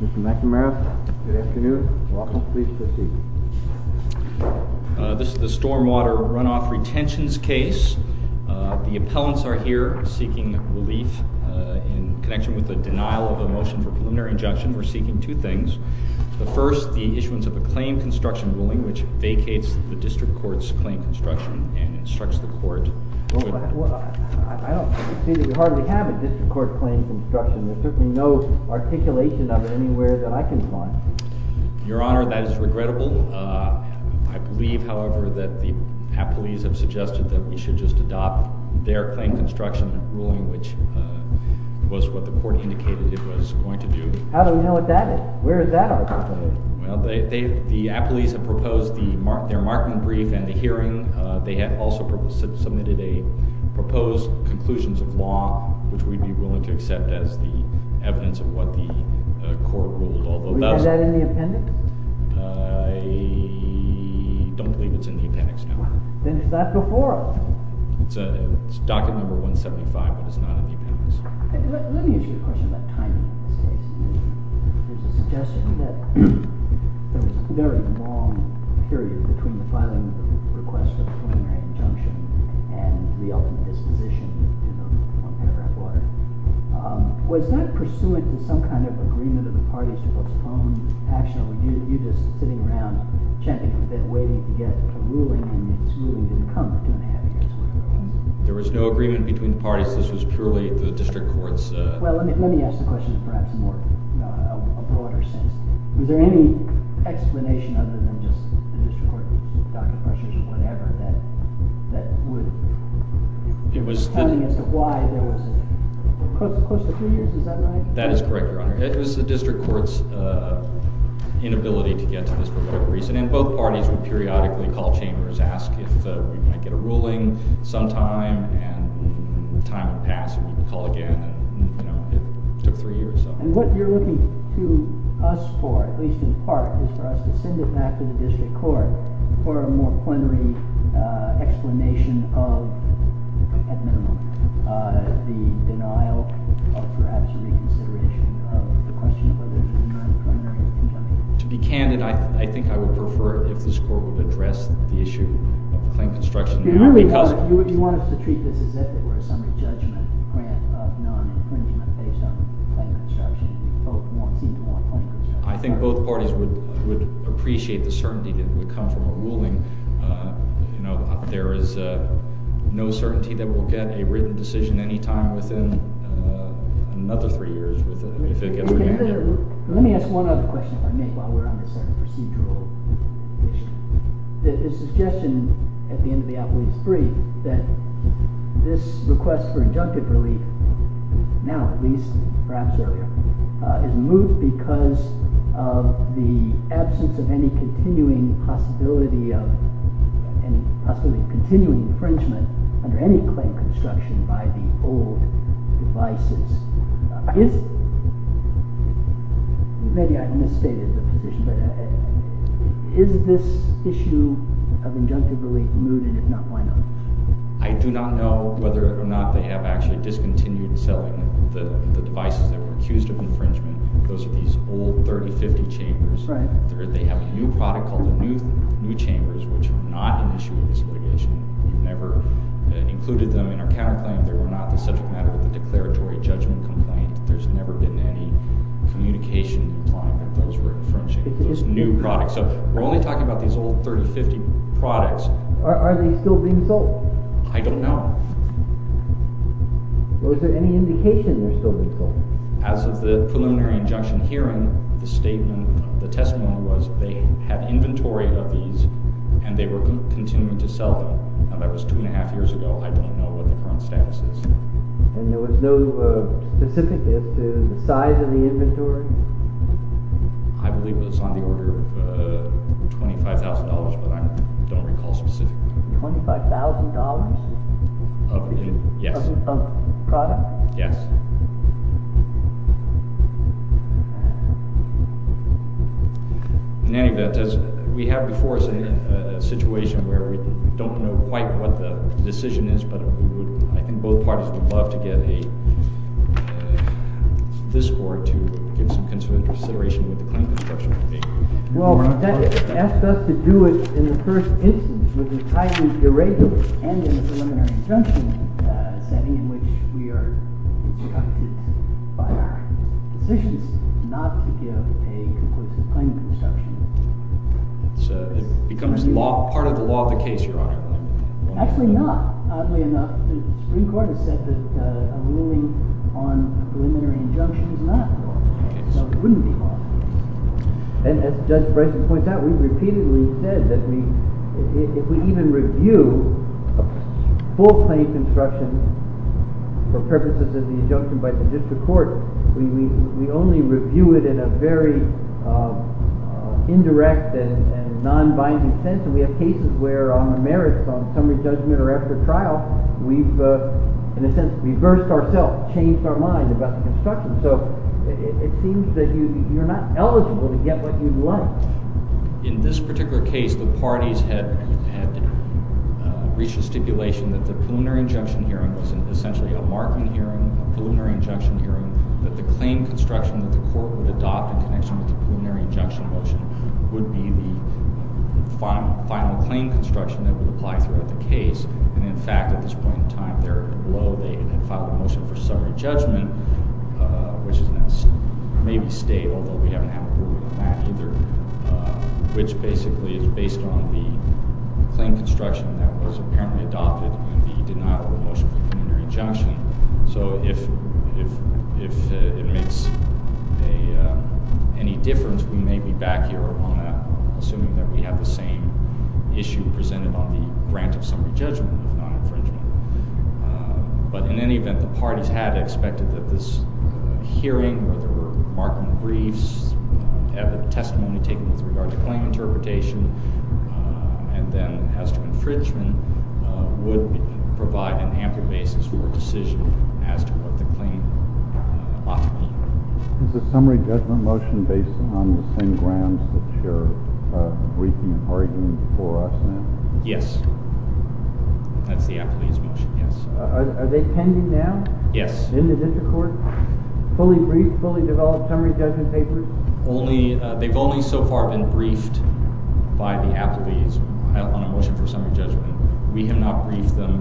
Mr. McNamara, good afternoon. You're welcome. Please proceed. This is the stormwater runoff retentions case. The appellants are here seeking relief in connection with the denial of a motion for preliminary injunction. We're seeking two things. The first, the issuance of a claim construction ruling which vacates the district court's claim construction and instructs the court... Well, I don't see that we hardly have a district court claim construction. There's certainly no articulation of it anywhere that I can find. Your Honor, that is regrettable. I believe, however, that the appellees have suggested that we should just adopt their claim construction ruling which was what the court indicated it was going to do. How do we know what that is? Where is that article? Well, the appellees have proposed their marking brief and the hearing. They have also submitted a proposed conclusions of law which we'd be willing to accept as the evidence of what the court ruled. Is that in the appendix? I don't believe it's in the appendix now. Then it's not before us. It's docket number 175, but it's not in the appendix. Let me ask you a question about timing of this case. There's a suggestion that there was a very long period between the filing of the request for preliminary injunction and the ultimate disposition. Was that pursuant to some kind of agreement of the parties to postpone action? Or were you just sitting around checking a bit, waiting to get a ruling and its ruling didn't come two and a half years later? There was no agreement between the parties. This was purely the district court's... Well, let me ask the question perhaps in a broader sense. Was there any explanation other than just the district court's docket questions or whatever that would tell us why there was close to three years? Is that right? That is correct, Your Honor. It was the district court's inability to get to this for whatever reason, and both parties would periodically call chambers, ask if we might get a ruling sometime, and time would pass and we would call again. It took three years. And what you're looking to us for, at least in part, is for us to send it back to the district court for a more plenary explanation of, at minimum, the denial of perhaps reconsideration of the question of whether there was a non-plenary injunction. To be candid, I think I would prefer if this court would address the issue of claim construction because... You want us to treat this as if it were a summary judgment grant of non-impringement based on claim construction? I think both parties would appreciate the certainty that it would come from a ruling. You know, there is no certainty that we'll get a written decision any time within another three years. Let me ask one other question, if I may, while we're on this sort of procedural issue. There's a suggestion at the end of the Appellate 3 that this request for injunctive relief, now at least, perhaps earlier, is moved because of the absence of any continuing possibility of, possibly continuing infringement under any claim construction by the old devices. Maybe I've misstated the position, but is this issue of injunctive relief moved, and if not, why not? I do not know whether or not they have actually discontinued selling the devices that were accused of infringement. Those are these old 30-50 chambers. They have a new product called the New Chambers, which are not an issue of this litigation. We've never included them in our counterclaim. They were not the subject matter of the declaratory judgment complaint. There's never been any communication applying that those were infringing those new products. So, we're only talking about these old 30-50 products. Are they still being sold? I don't know. Well, is there any indication they're still being sold? As of the preliminary injunction hearing, the statement, the testimony was they had inventory of these, and they were continuing to sell them. Now, that was two and a half years ago. I don't know what the current status is. And there was no specificness to the size of the inventory? I believe it was on the order of $25,000, but I don't recall specifically. $25,000? Yes. Of the product? Yes. In any event, we have before us a situation where we don't know quite what the decision is, but I think both parties would love to get a discord to give some consideration with the claim construction committee. Well, that asked us to do it in the first instance with an entirely irregular and in a preliminary injunction setting in which we are instructed by our positions not to give a conclusive claim construction. So it becomes part of the law of the case, Your Honor. Actually not. Oddly enough, the Supreme Court has said that a ruling on a preliminary injunction is not law of the case, so it wouldn't be law. And as Judge Bryson points out, we repeatedly said that if we even review a full claim construction for purposes of the injunction by the district court, we only review it in a very indirect and non-binding sense. And we have cases where on the merits, on summary judgment or after trial, we've in a sense reversed ourselves, changed our mind about the construction. So it seems that you're not eligible to get what you'd like. In this particular case, the parties had reached a stipulation that the preliminary injunction hearing was essentially a marking hearing, a preliminary injunction hearing, that the claim construction that the court would adopt in connection with the preliminary injunction motion would be the final claim construction that would apply throughout the case. And in fact, at this point in time, there below, they had filed a motion for summary judgment, which is in that maybe state, although we haven't had a ruling on that either, which basically is based on the claim construction that was apparently adopted in the denial of the motion for preliminary injunction. So if it makes any difference, we may be back here on assuming that we have the same issue presented on the grant of summary judgment of non-infringement. But in any event, the parties had expected that this hearing, whether marking briefs, have a testimony taken with regard to claim interpretation, and then as to infringement, would provide an ample basis for a decision as to what the claim ought to be. Is the summary judgment motion based on the same grounds that you're briefing and arguing for us now? Yes. That's the appellee's motion, yes. Are they pending now? Yes. In the district court? Fully briefed, fully developed summary judgment papers? They've only so far been briefed by the appellees on a motion for summary judgment. We have not briefed them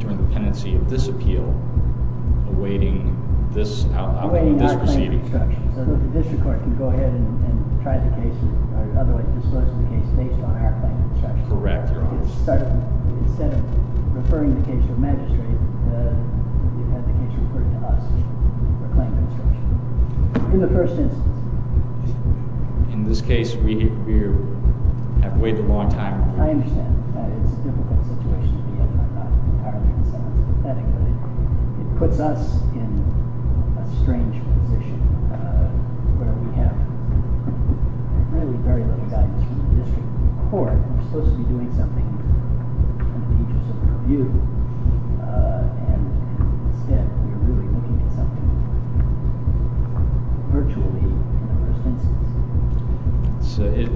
during the pendency of this appeal awaiting this proceeding. Awaiting our claim construction. So the district court can go ahead and try the case, or in other words, disclose the case based on our claim construction. Correct, Your Honor. Instead of referring the case to a magistrate, you've had the case referred to us for claim construction. In the first instance. In this case, we have waited a long time. I understand that it's a difficult situation to be in. I'm not entirely concerned. It's pathetic, but it puts us in a strange position where we have really very little guidance from the district court. We're supposed to be doing something in the interest of the review, and instead we're really looking at something virtually in the first instance.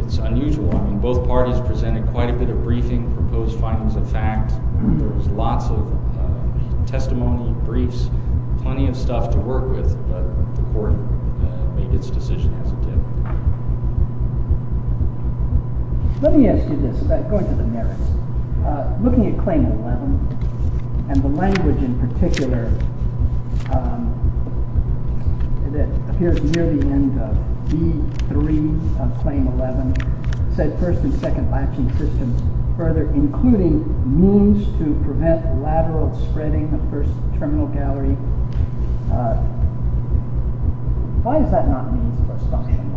It's unusual. Both parties presented quite a bit of briefing, proposed findings of fact. There was lots of testimony, briefs, plenty of stuff to work with, but the court made its decision as it did. Let me ask you this, going to the merits. Looking at Claim 11, and the language in particular that appears near the end of B3 of Claim 11, it says first and second action systems further, including means to prevent lateral spreading of first terminal gallery. Why is that not a means of obstruction of language?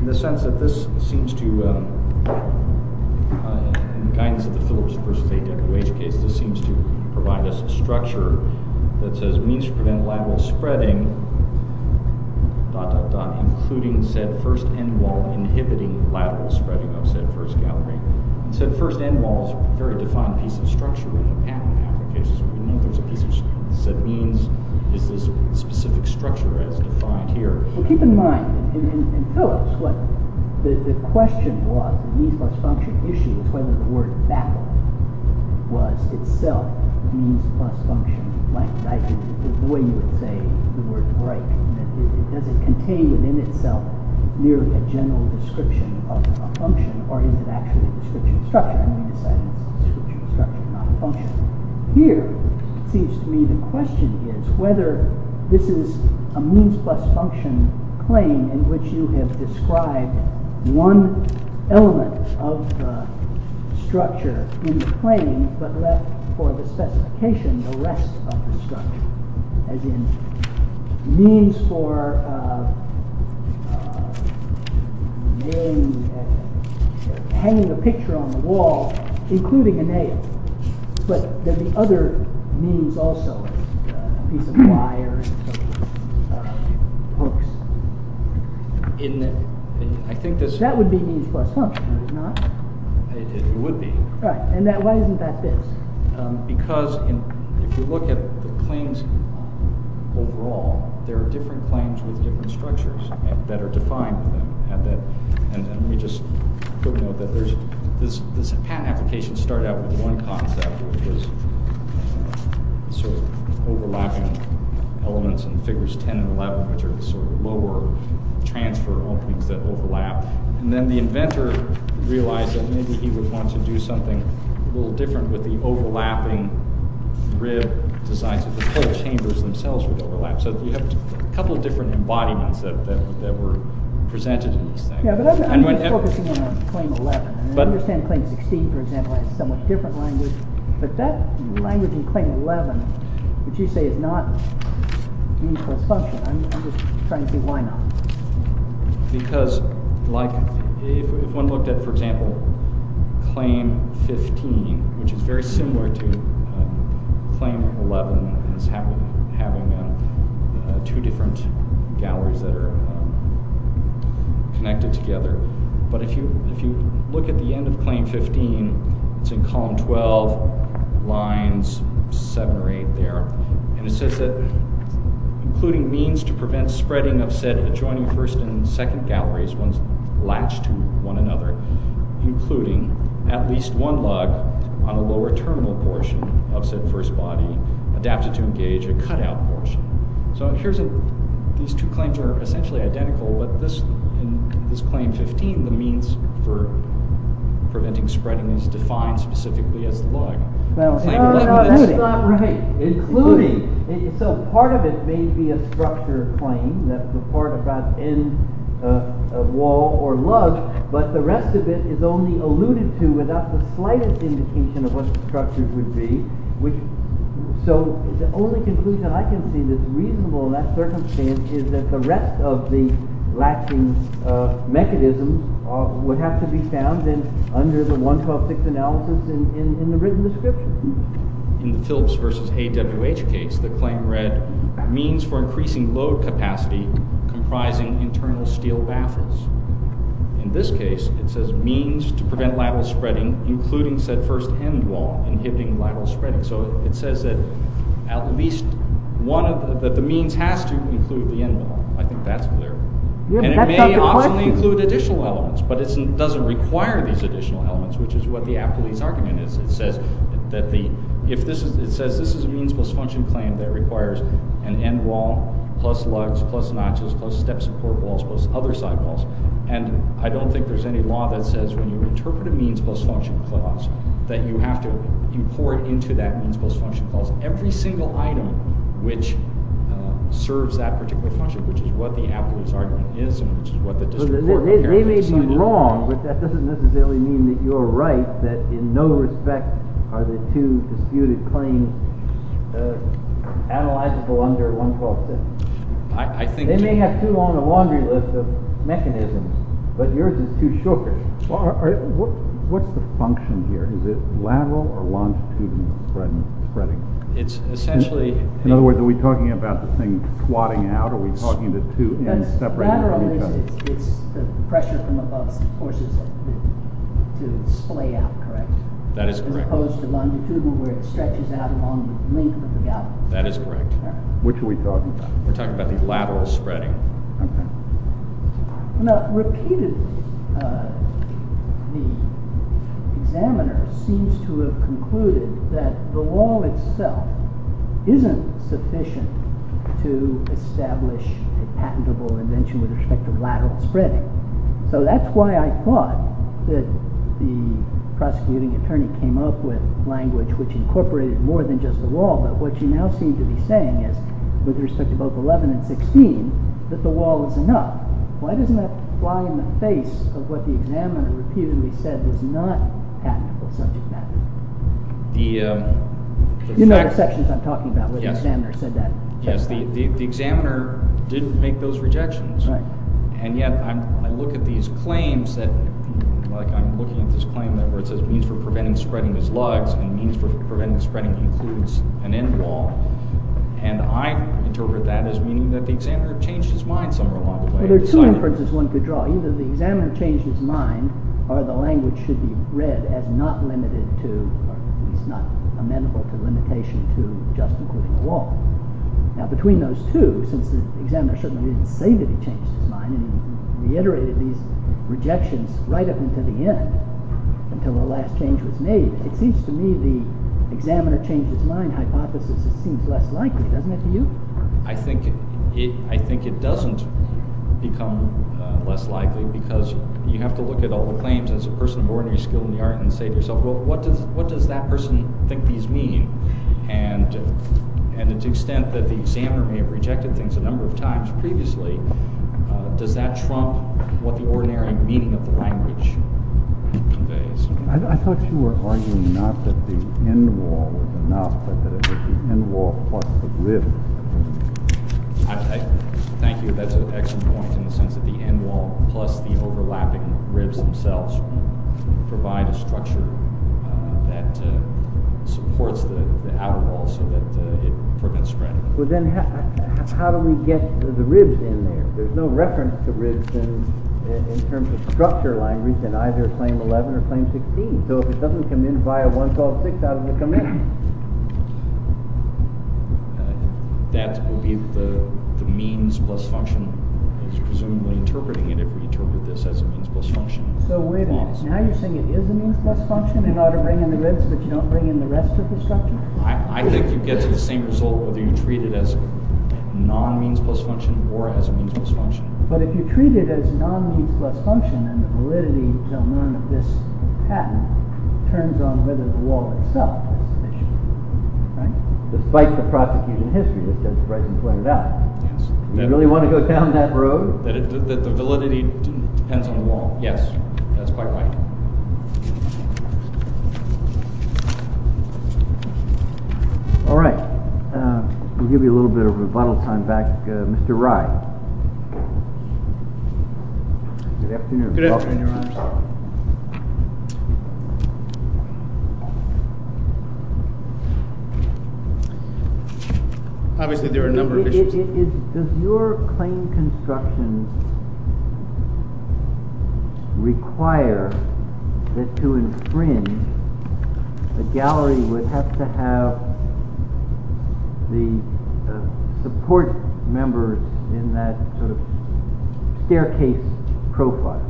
In the sense that this seems to, in the guidance of the Phillips v. A. W. H. case, this seems to provide us a structure that says means to prevent lateral spreading, including said first end wall inhibiting lateral spreading of said first gallery. Said first end wall is a very defined piece of structure in the patent application. We know there's a piece of said means. Is this specific structure as defined here? Well, keep in mind, in Phillips, what the question was, the means plus function issue is whether the word baffle was itself means plus function blank. The way you would say the word break. Does it contain within itself merely a general description of a function, or is it actually a description of structure? And we decided it's a description of structure, not a function. Here, it seems to me the question is whether this is a means plus function claim in which you have described one element of the structure in the claim, but left for the specification the rest of the structure, as in means for hanging a picture on the wall, including a nail. But then the other means also is a piece of wire and hooks. That would be means plus function, would it not? It would be. Right. And why isn't that this? Because if you look at the claims overall, there are different claims with different structures that are defined. And let me just put a note that this patent application started out with one concept, which was overlapping elements in figures 10 and 11, which are sort of lower transfer openings that overlap. And then the inventor realized that maybe he would want to do something a little different with the overlapping rib designs. The club chambers themselves would overlap. So you have a couple of different embodiments that were presented in these things. Yeah, but I'm focusing on claim 11. I understand claim 16, for example, has a somewhat different language. But that language in claim 11, which you say is not means plus function, I'm just trying to see why not. Because if one looked at, for example, claim 15, which is very similar to claim 11 as having two different galleries that are connected together. But if you look at the end of claim 15, it's in column 12, lines 7 or 8 there. And it says that including means to prevent spreading of said adjoining first and second galleries once latched to one another, including at least one lug on a lower terminal portion of said first body adapted to engage a cutout portion. So these two claims are essentially identical. But in this claim 15, the means for preventing spreading is defined specifically as the lug. No, that's not right. So part of it may be a structure claim. That's the part about end of wall or lug. But the rest of it is only alluded to without the slightest indication of what the structure would be. So the only conclusion I can see that's reasonable in that circumstance is that the rest of the latching mechanism would have to be found under the 1.12.6 analysis in the written description. In the Philips versus AWH case, the claim read means for increasing load capacity comprising internal steel baffles. In this case, it says means to prevent lateral spreading, including said first end wall inhibiting lateral spreading. So it says that at least one of the means has to include the end wall. I think that's clear. And it may optionally include additional elements, but it doesn't require these additional elements, which is what the Appelese argument is. It says this is a means plus function claim that requires an end wall, plus lugs, plus notches, plus step support walls, plus other sidewalls. And I don't think there's any law that says when you interpret a means plus function clause that you have to import into that means plus function clause every single item which serves that particular function, which is what the Appelese argument is and which is what the district court apparently decided. You're wrong, but that doesn't necessarily mean that you're right, that in no respect are the two disputed claims analyzable under 1.12.6. They may have two on the laundry list of mechanisms, but yours is too short. What's the function here? Is it lateral or longitudinal spreading? In other words, are we talking about the thing squatting out, or are we talking about the two ends separating from each other? The pressure from above forces it to splay out, correct? That is correct. As opposed to longitudinal where it stretches out along the length of the gap. That is correct. Which are we talking about? We're talking about the lateral spreading. Repeatedly, the examiner seems to have concluded that the law itself isn't sufficient to establish a patentable invention with respect to lateral spreading. So that's why I thought that the prosecuting attorney came up with language which incorporated more than just the law, but what you now seem to be saying is, with respect to both 11 and 16, that the law is enough. Why doesn't that fly in the face of what the examiner repeatedly said was not patentable subject matter? You know the sections I'm talking about where the examiner said that. Yes, the examiner didn't make those rejections, and yet I look at these claims that – like I'm looking at this claim where it says means for preventing spreading is lugs, and means for preventing spreading includes an end law, and I interpret that as meaning that the examiner changed his mind somewhere along the way. Well, there are two inferences one could draw. Either the examiner changed his mind, or the language should be read as not limited to, or at least not amenable to limitation to just including the law. Now between those two, since the examiner certainly didn't say that he changed his mind, and he reiterated these rejections right up until the end, until the last change was made, it seems to me the examiner changed his mind hypothesis seems less likely. Doesn't it to you? I think it doesn't become less likely because you have to look at all the claims as a person of ordinary skill in the art and say to yourself, well, what does that person think these mean? And to the extent that the examiner may have rejected things a number of times previously, does that trump what the ordinary meaning of the language conveys? I thought you were arguing not that the end law was enough, but that it was the end law plus the ribs. Thank you. That's an excellent point in the sense that the end law plus the overlapping ribs themselves provide a structure that supports the outlaw so that it prevents spreading. Well, then how do we get the ribs in there? There's no reference to ribs in terms of structure language in either Claim 11 or Claim 16. So if it doesn't come in via 1, 12, 6, how does it come in? That would be the means plus function is presumably interpreting it if we interpret this as a means plus function. So wait a minute. Now you're saying it is a means plus function and ought to bring in the ribs, but you don't bring in the rest of the structure? I think you'd get to the same result whether you treat it as non-means plus function or as a means plus function. But if you treat it as non-means plus function and the validity until none of this happens, it turns on whether the wall itself has sufficient validity, right? Despite the prosecution history that Judge Bryson pointed out. Yes. Do you really want to go down that road? That the validity depends on the wall? Yes. That's quite right. All right. We'll give you a little bit of rebuttal time back. Mr. Rye. Good afternoon. Good afternoon, Your Honor. Obviously there are a number of issues. Does your claim construction require that to infringe, the gallery would have to have the support members in that staircase profile?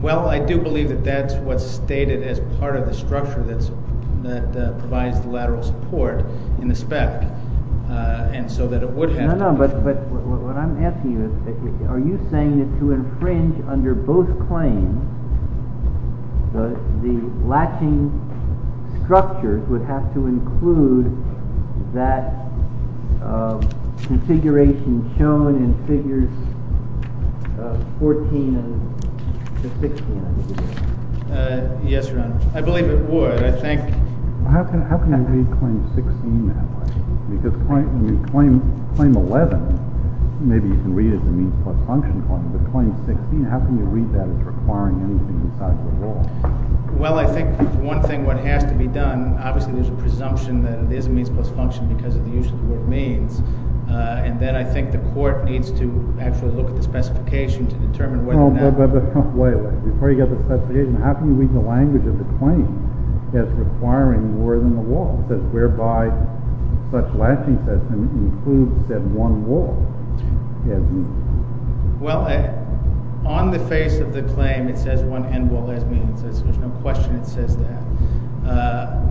Well, I do believe that that's what's stated as part of the structure that provides the lateral support in the spec. And so that it would have. No, no. But what I'm asking you is, are you saying that to infringe under both claims, the latching structures would have to include that configuration shown in figures 14 and 16? Yes, Your Honor. I believe it would. I think. How can you read claim 16 that way? Because when you claim 11, maybe you can read it as a means plus function claim. But claim 16, how can you read that as requiring anything inside the wall? Well, I think one thing that has to be done, obviously there's a presumption that it is a means plus function because of the use of the word means. And then I think the court needs to actually look at the specification to determine whether or not. But wait a minute. Before you get the specification, how can you read the language of the claim as requiring more than the wall? It says, whereby such latching system includes that one wall. Well, on the face of the claim, it says one end wall as means. There's no question it says that.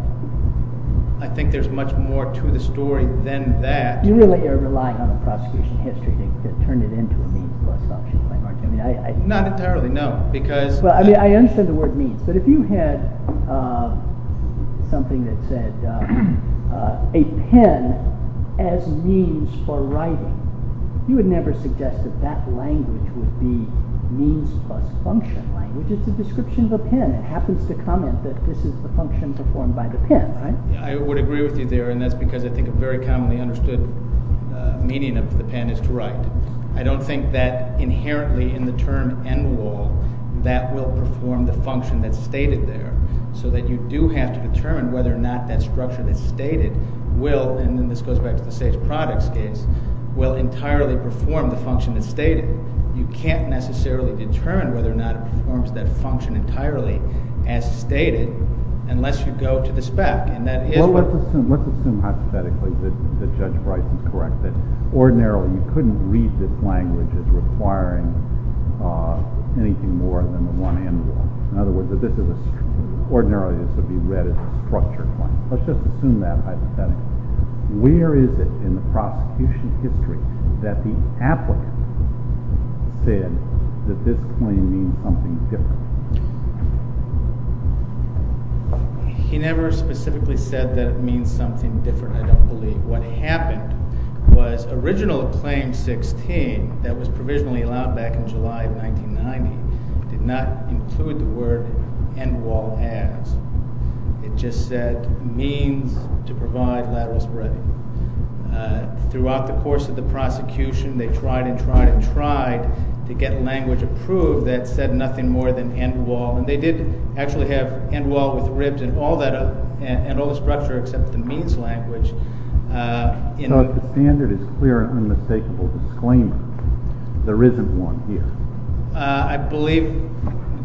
I think there's much more to the story than that. You really are relying on the prosecution history to turn it into a means plus function claim, aren't you? Not entirely, no. I understand the word means. But if you had something that said a pen as means for writing, you would never suggest that that language would be means plus function language. It's a description of a pen. It happens to comment that this is the function performed by the pen, right? I would agree with you there. And that's because I think a very commonly understood meaning of the pen is to write. I don't think that inherently in the term end wall, that will perform the function that's stated there. So that you do have to determine whether or not that structure that's stated will, and then this goes back to the safe products case, will entirely perform the function that's stated. You can't necessarily determine whether or not it performs that function entirely as stated unless you go to the spec. Let's assume hypothetically that Judge Bryce is correct, that ordinarily you couldn't read this language as requiring anything more than the one end wall. In other words, ordinarily this would be read as a structured claim. Let's just assume that hypothetically. Where is it in the prosecution history that the applicant said that this claim means something different? He never specifically said that it means something different, I don't believe. What happened was original claim 16 that was provisionally allowed back in July of 1990 did not include the word end wall as. It just said means to provide lateral spreading. Throughout the course of the prosecution, they tried and tried and tried to get language approved that said nothing more than end wall. And they did actually have end wall with ribs and all the structure except the means language. So if the standard is clear and unmistakable disclaimer, there isn't one here. I believe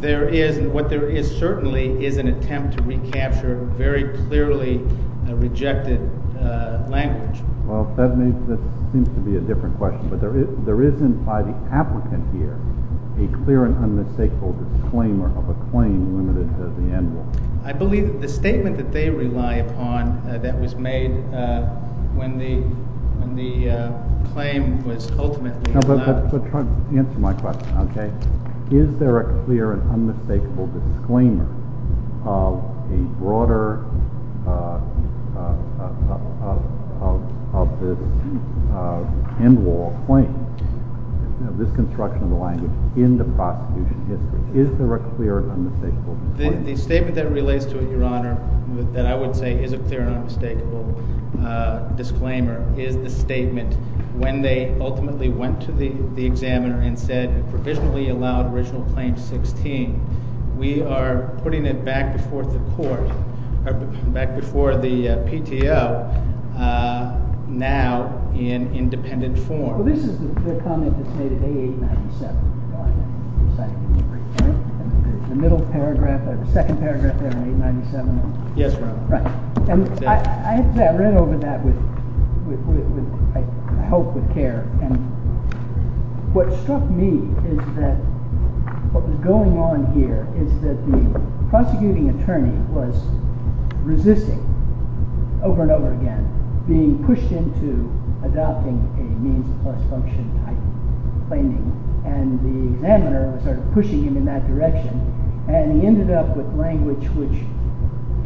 there is and what there is certainly is an attempt to recapture very clearly rejected language. Well, that seems to be a different question. But there isn't by the applicant here a clear and unmistakable disclaimer of a claim limited to the end wall. I believe the statement that they rely upon that was made when the claim was ultimately allowed. But try to answer my question. Is there a clear and unmistakable disclaimer of a broader end wall claim, this construction of the language in the prosecution history? Is there a clear and unmistakable disclaimer? The statement that relates to it, Your Honor, that I would say is a clear and unmistakable disclaimer is the statement when they ultimately went to the examiner and said provisionally allowed original claim 16. We are putting it back before the court, back before the PTO now in independent form. Well, this is the comment that's made at A897. The middle paragraph, the second paragraph there in A897. Yes, Your Honor. I read over that with, I hope, with care. And what struck me is that what was going on here is that the prosecuting attorney was resisting over and over again being pushed into adopting a means of force function type claiming. And the examiner was sort of pushing him in that direction. And he ended up with language which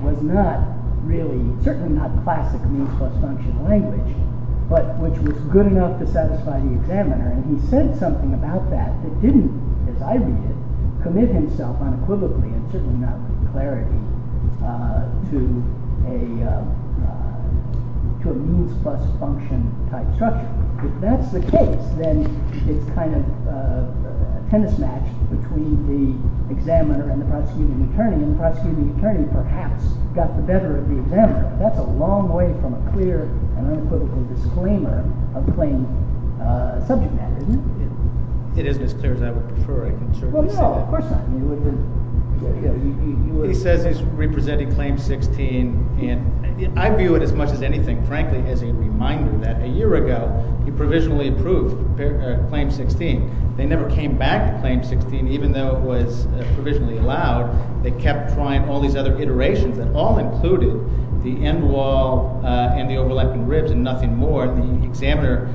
was not really, certainly not classic means plus function language, but which was good enough to satisfy the examiner. And he said something about that that didn't, as I read it, commit himself unequivocally and certainly not with clarity to a means plus function type structure. If that's the case, then it's kind of a tennis match between the examiner and the prosecuting attorney. And the prosecuting attorney perhaps got the better of the examiner. That's a long way from a clear and unequivocal disclaimer of claim subject matter, isn't it? It isn't as clear as I would prefer. I can certainly say that. Well, no, of course not. He says he's representing Claim 16. And I view it as much as anything, frankly, as a reminder that a year ago he provisionally approved Claim 16. They never came back to Claim 16 even though it was provisionally allowed. They kept trying all these other iterations that all included the end wall and the overlapping ribs and nothing more. The examiner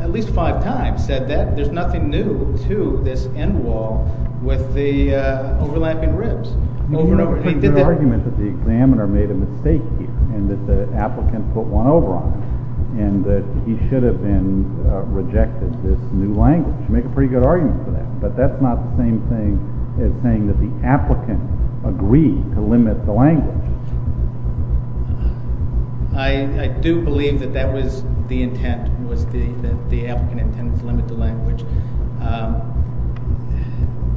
at least five times said that there's nothing new to this end wall with the overlapping ribs. He made a pretty good argument that the examiner made a mistake here and that the applicant put one over on it and that he should have been rejected this new language. You make a pretty good argument for that. But that's not the same thing as saying that the applicant agreed to limit the language. I do believe that that was the intent, was that the applicant intended to limit the language.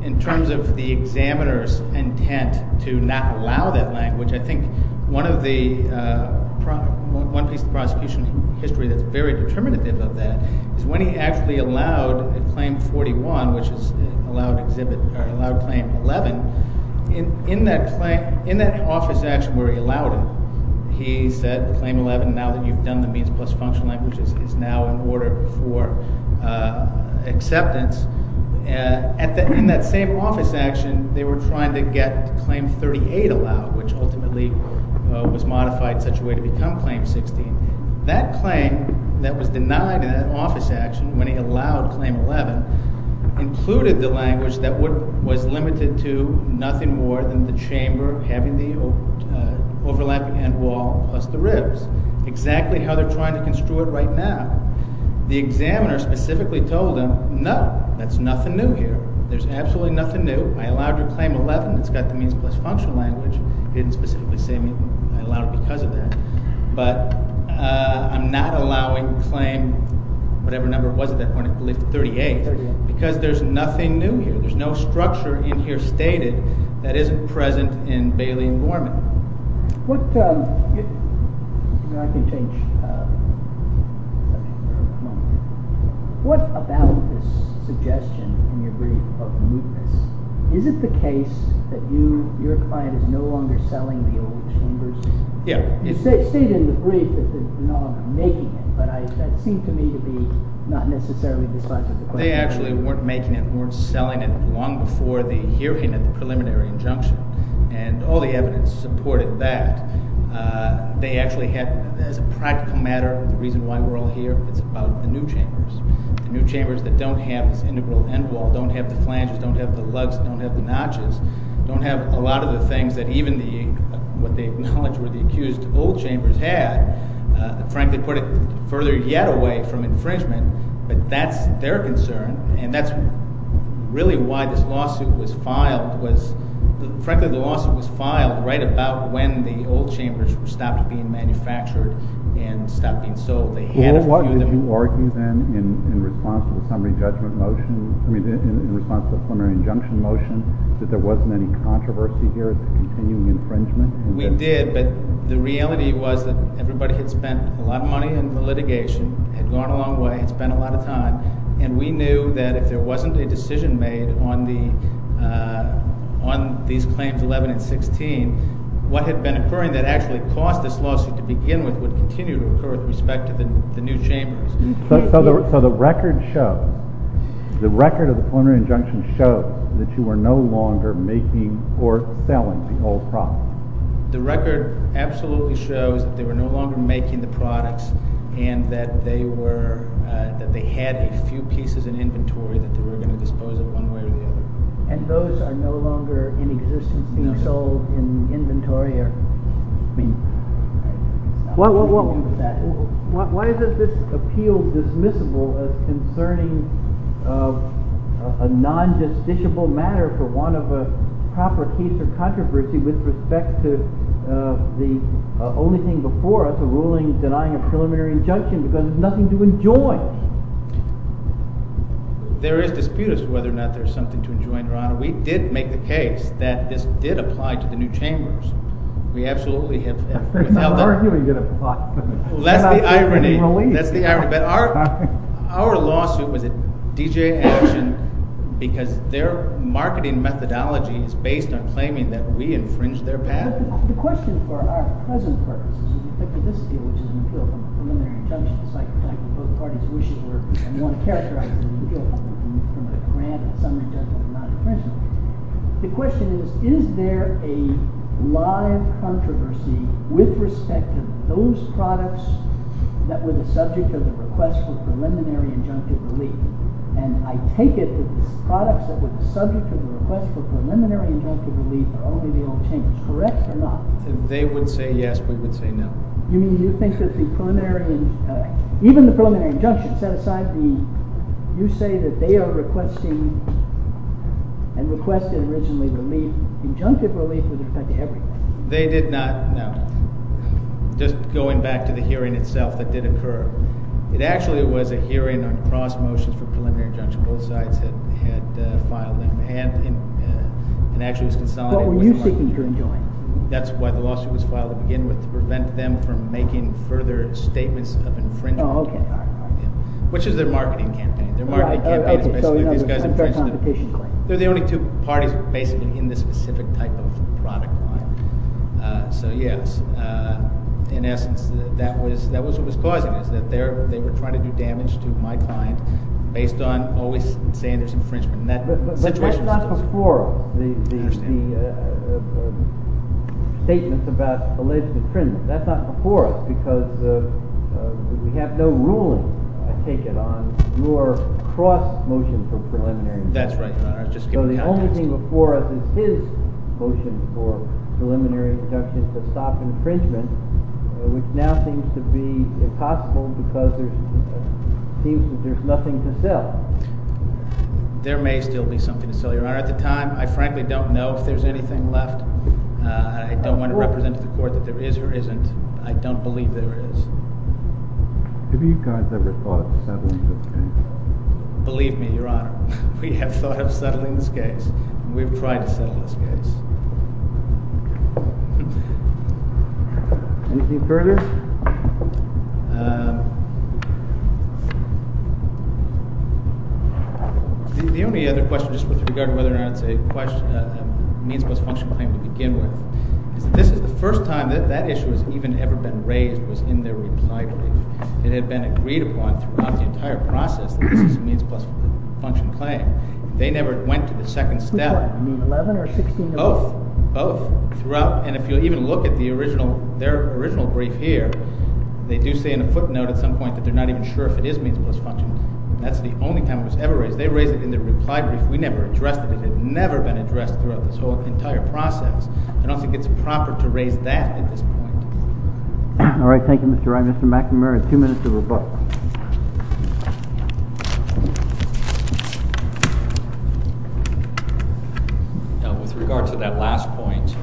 In terms of the examiner's intent to not allow that language, I think one of the – one piece of prosecution history that's very determinative of that is when he actually allowed Claim 41, which is allowed exhibit – allowed Claim 11, in that claim – in that office action where he allowed it, he said Claim 11 now that you've done the means plus function language is now in order for acceptance. In that same office action, they were trying to get Claim 38 allowed, which ultimately was modified in such a way to become Claim 16. That claim that was denied in that office action when he allowed Claim 11 included the language that was limited to nothing more than the chamber having the overlapping end wall plus the ribs, exactly how they're trying to construe it right now. The examiner specifically told him, no, that's nothing new here. There's absolutely nothing new. I allowed your Claim 11. It's got the means plus function language. He didn't specifically say I allowed it because of that. But I'm not allowing Claim – whatever number it was at that point – 38 because there's nothing new here. There's no structure in here stated that isn't present in Bailey and Gorman. What – I can change – what about this suggestion in your brief of mootness? Is it the case that you – your client is no longer selling the old chambers? Yeah. You state in the brief that they're no longer making it, but that seemed to me to be not necessarily the subject of the question. They actually weren't making it, weren't selling it long before the hearing of the preliminary injunction, and all the evidence supported that. They actually had – as a practical matter, the reason why we're all here, it's about the new chambers, the new chambers that don't have this integral end wall, don't have the flanges, don't have the lugs, don't have the notches, don't have a lot of the things that even the – what they acknowledge were the accused old chambers had, frankly put it further yet away from infringement. But that's their concern, and that's really why this lawsuit was filed was – frankly, the lawsuit was filed right about when the old chambers stopped being manufactured and stopped being sold. Well, why did you argue then in response to the summary judgment motion – I mean in response to the preliminary injunction motion that there wasn't any controversy here, it's a continuing infringement? We did, but the reality was that everybody had spent a lot of money in the litigation, had gone a long way, had spent a lot of time, and we knew that if there wasn't a decision made on the – on these claims 11 and 16, what had been occurring that actually caused this lawsuit to begin with would continue to occur with respect to the new chambers. So the record showed – the record of the preliminary injunction showed that you were no longer making or selling the old products? The record absolutely shows that they were no longer making the products and that they were – that they had a few pieces in inventory that they were going to dispose of one way or the other. And those are no longer in existence being sold in inventory or – I mean – Why is this appeal dismissible as concerning a non-justiciable matter for one of a proper case of controversy with respect to the only thing before us, a ruling denying a preliminary injunction because there's nothing to enjoy? There is dispute as to whether or not there's something to enjoy, Your Honor. We did make the case that this did apply to the new chambers. We absolutely have – You're arguing it a lot. That's the irony. That's the irony. But our lawsuit was a DJ action because their marketing methodology is based on claiming that we infringed their patent. But the question for our present purposes, in particular this deal, which is an appeal from a preliminary injunction, it's like both parties wish it were and want to characterize it as an appeal from a grant, a summary judgment, not infringement. The question is, is there a live controversy with respect to those products that were the subject of the request for preliminary injunctive relief? And I take it that the products that were the subject of the request for preliminary injunctive relief are only the old chambers. Correct or not? They would say yes. We would say no. You mean you think that the preliminary – even the preliminary injunction set aside the – you say that they are requesting and requested originally relief. Injunctive relief would affect everyone. They did not. No. Just going back to the hearing itself that did occur, it actually was a hearing on cross motions for preliminary injunction. Both sides had filed them and actually was consolidated. What were you seeking to enjoin? That's why the lawsuit was filed to begin with, to prevent them from making further statements of infringement. Oh, okay. All right. Which is their marketing campaign. Their marketing campaign is basically these guys infringed. Fair competition claim. They're the only two parties basically in this specific type of product line. So yes, in essence, that was what was causing it, that they were trying to do damage to my client based on always saying there's infringement. But that's not before the statements about alleged infringement. That's not before us because we have no ruling taken on your cross motion for preliminary injunction. That's right, Your Honor. So the only thing before us is his motion for preliminary injunction to stop infringement, which now seems to be impossible because there seems that there's nothing to sell. There may still be something to sell, Your Honor. At the time, I frankly don't know if there's anything left. I don't want to represent to the court that there is or isn't. I don't believe there is. Have you guys ever thought of settling for change? Believe me, Your Honor, we have thought of settling this case, and we've tried to settle this case. Anything further? The only other question just with regard to whether or not it's a means plus function claim to begin with is that this is the first time that that issue has even ever been raised was in their reply brief. It had been agreed upon throughout the entire process that this is a means plus function claim. They never went to the second step. What do you mean, 11 or 16? Both. Both. And if you'll even look at their original brief here, they do say in a footnote at some point that they're not even sure if it is means plus function. That's the only time it was ever raised. They raised it in their reply brief. We never addressed it. It had never been addressed throughout this entire process. I don't think it's proper to raise that at this point. All right. Thank you, Mr. Wright. Mr. McNamara, two minutes to rebut. With regard to that last point,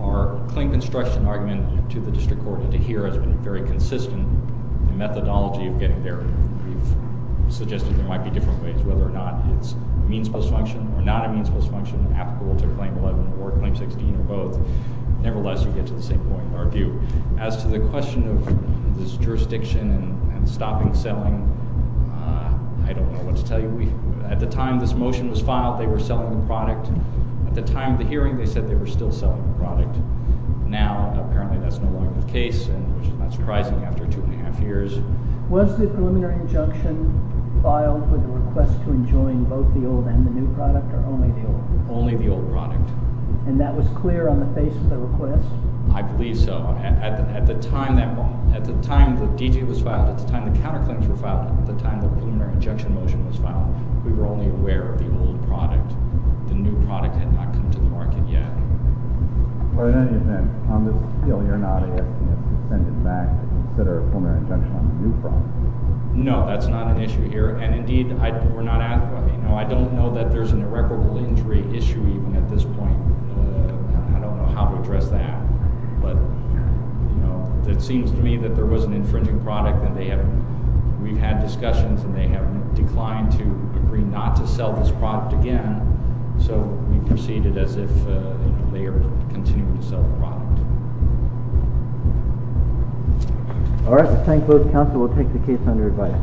our claim construction argument to the district court and to here has been very consistent in the methodology of getting there. We've suggested there might be different ways, whether or not it's means plus function or not a means plus function applicable to claim 11 or claim 16 or both. Nevertheless, you get to the same point in our view. As to the question of this jurisdiction and stopping selling, I don't know what to tell you. At the time this motion was filed, they were selling the product. At the time of the hearing, they said they were still selling the product. Now, apparently, that's no longer the case, which is not surprising after two and a half years. Was the preliminary injunction filed with a request to enjoin both the old and the new product or only the old? Only the old product. And that was clear on the face of the request? I believe so. At the time that D.J. was filed, at the time the counterclaims were filed, at the time the preliminary injunction motion was filed, we were only aware of the old product. The new product had not come to the market yet. Well, in any event, on this appeal, you're not asking us to send it back and consider a preliminary injunction on the new product? No, that's not an issue here. I don't know that there's an irreparable injury issue even at this point. I don't know how to address that. But it seems to me that there was an infringing product, and we've had discussions, and they have declined to agree not to sell this product again. So we proceed as if they are continuing to sell the product. All right. I thank both counsel. We'll take the case under advice. Thank you.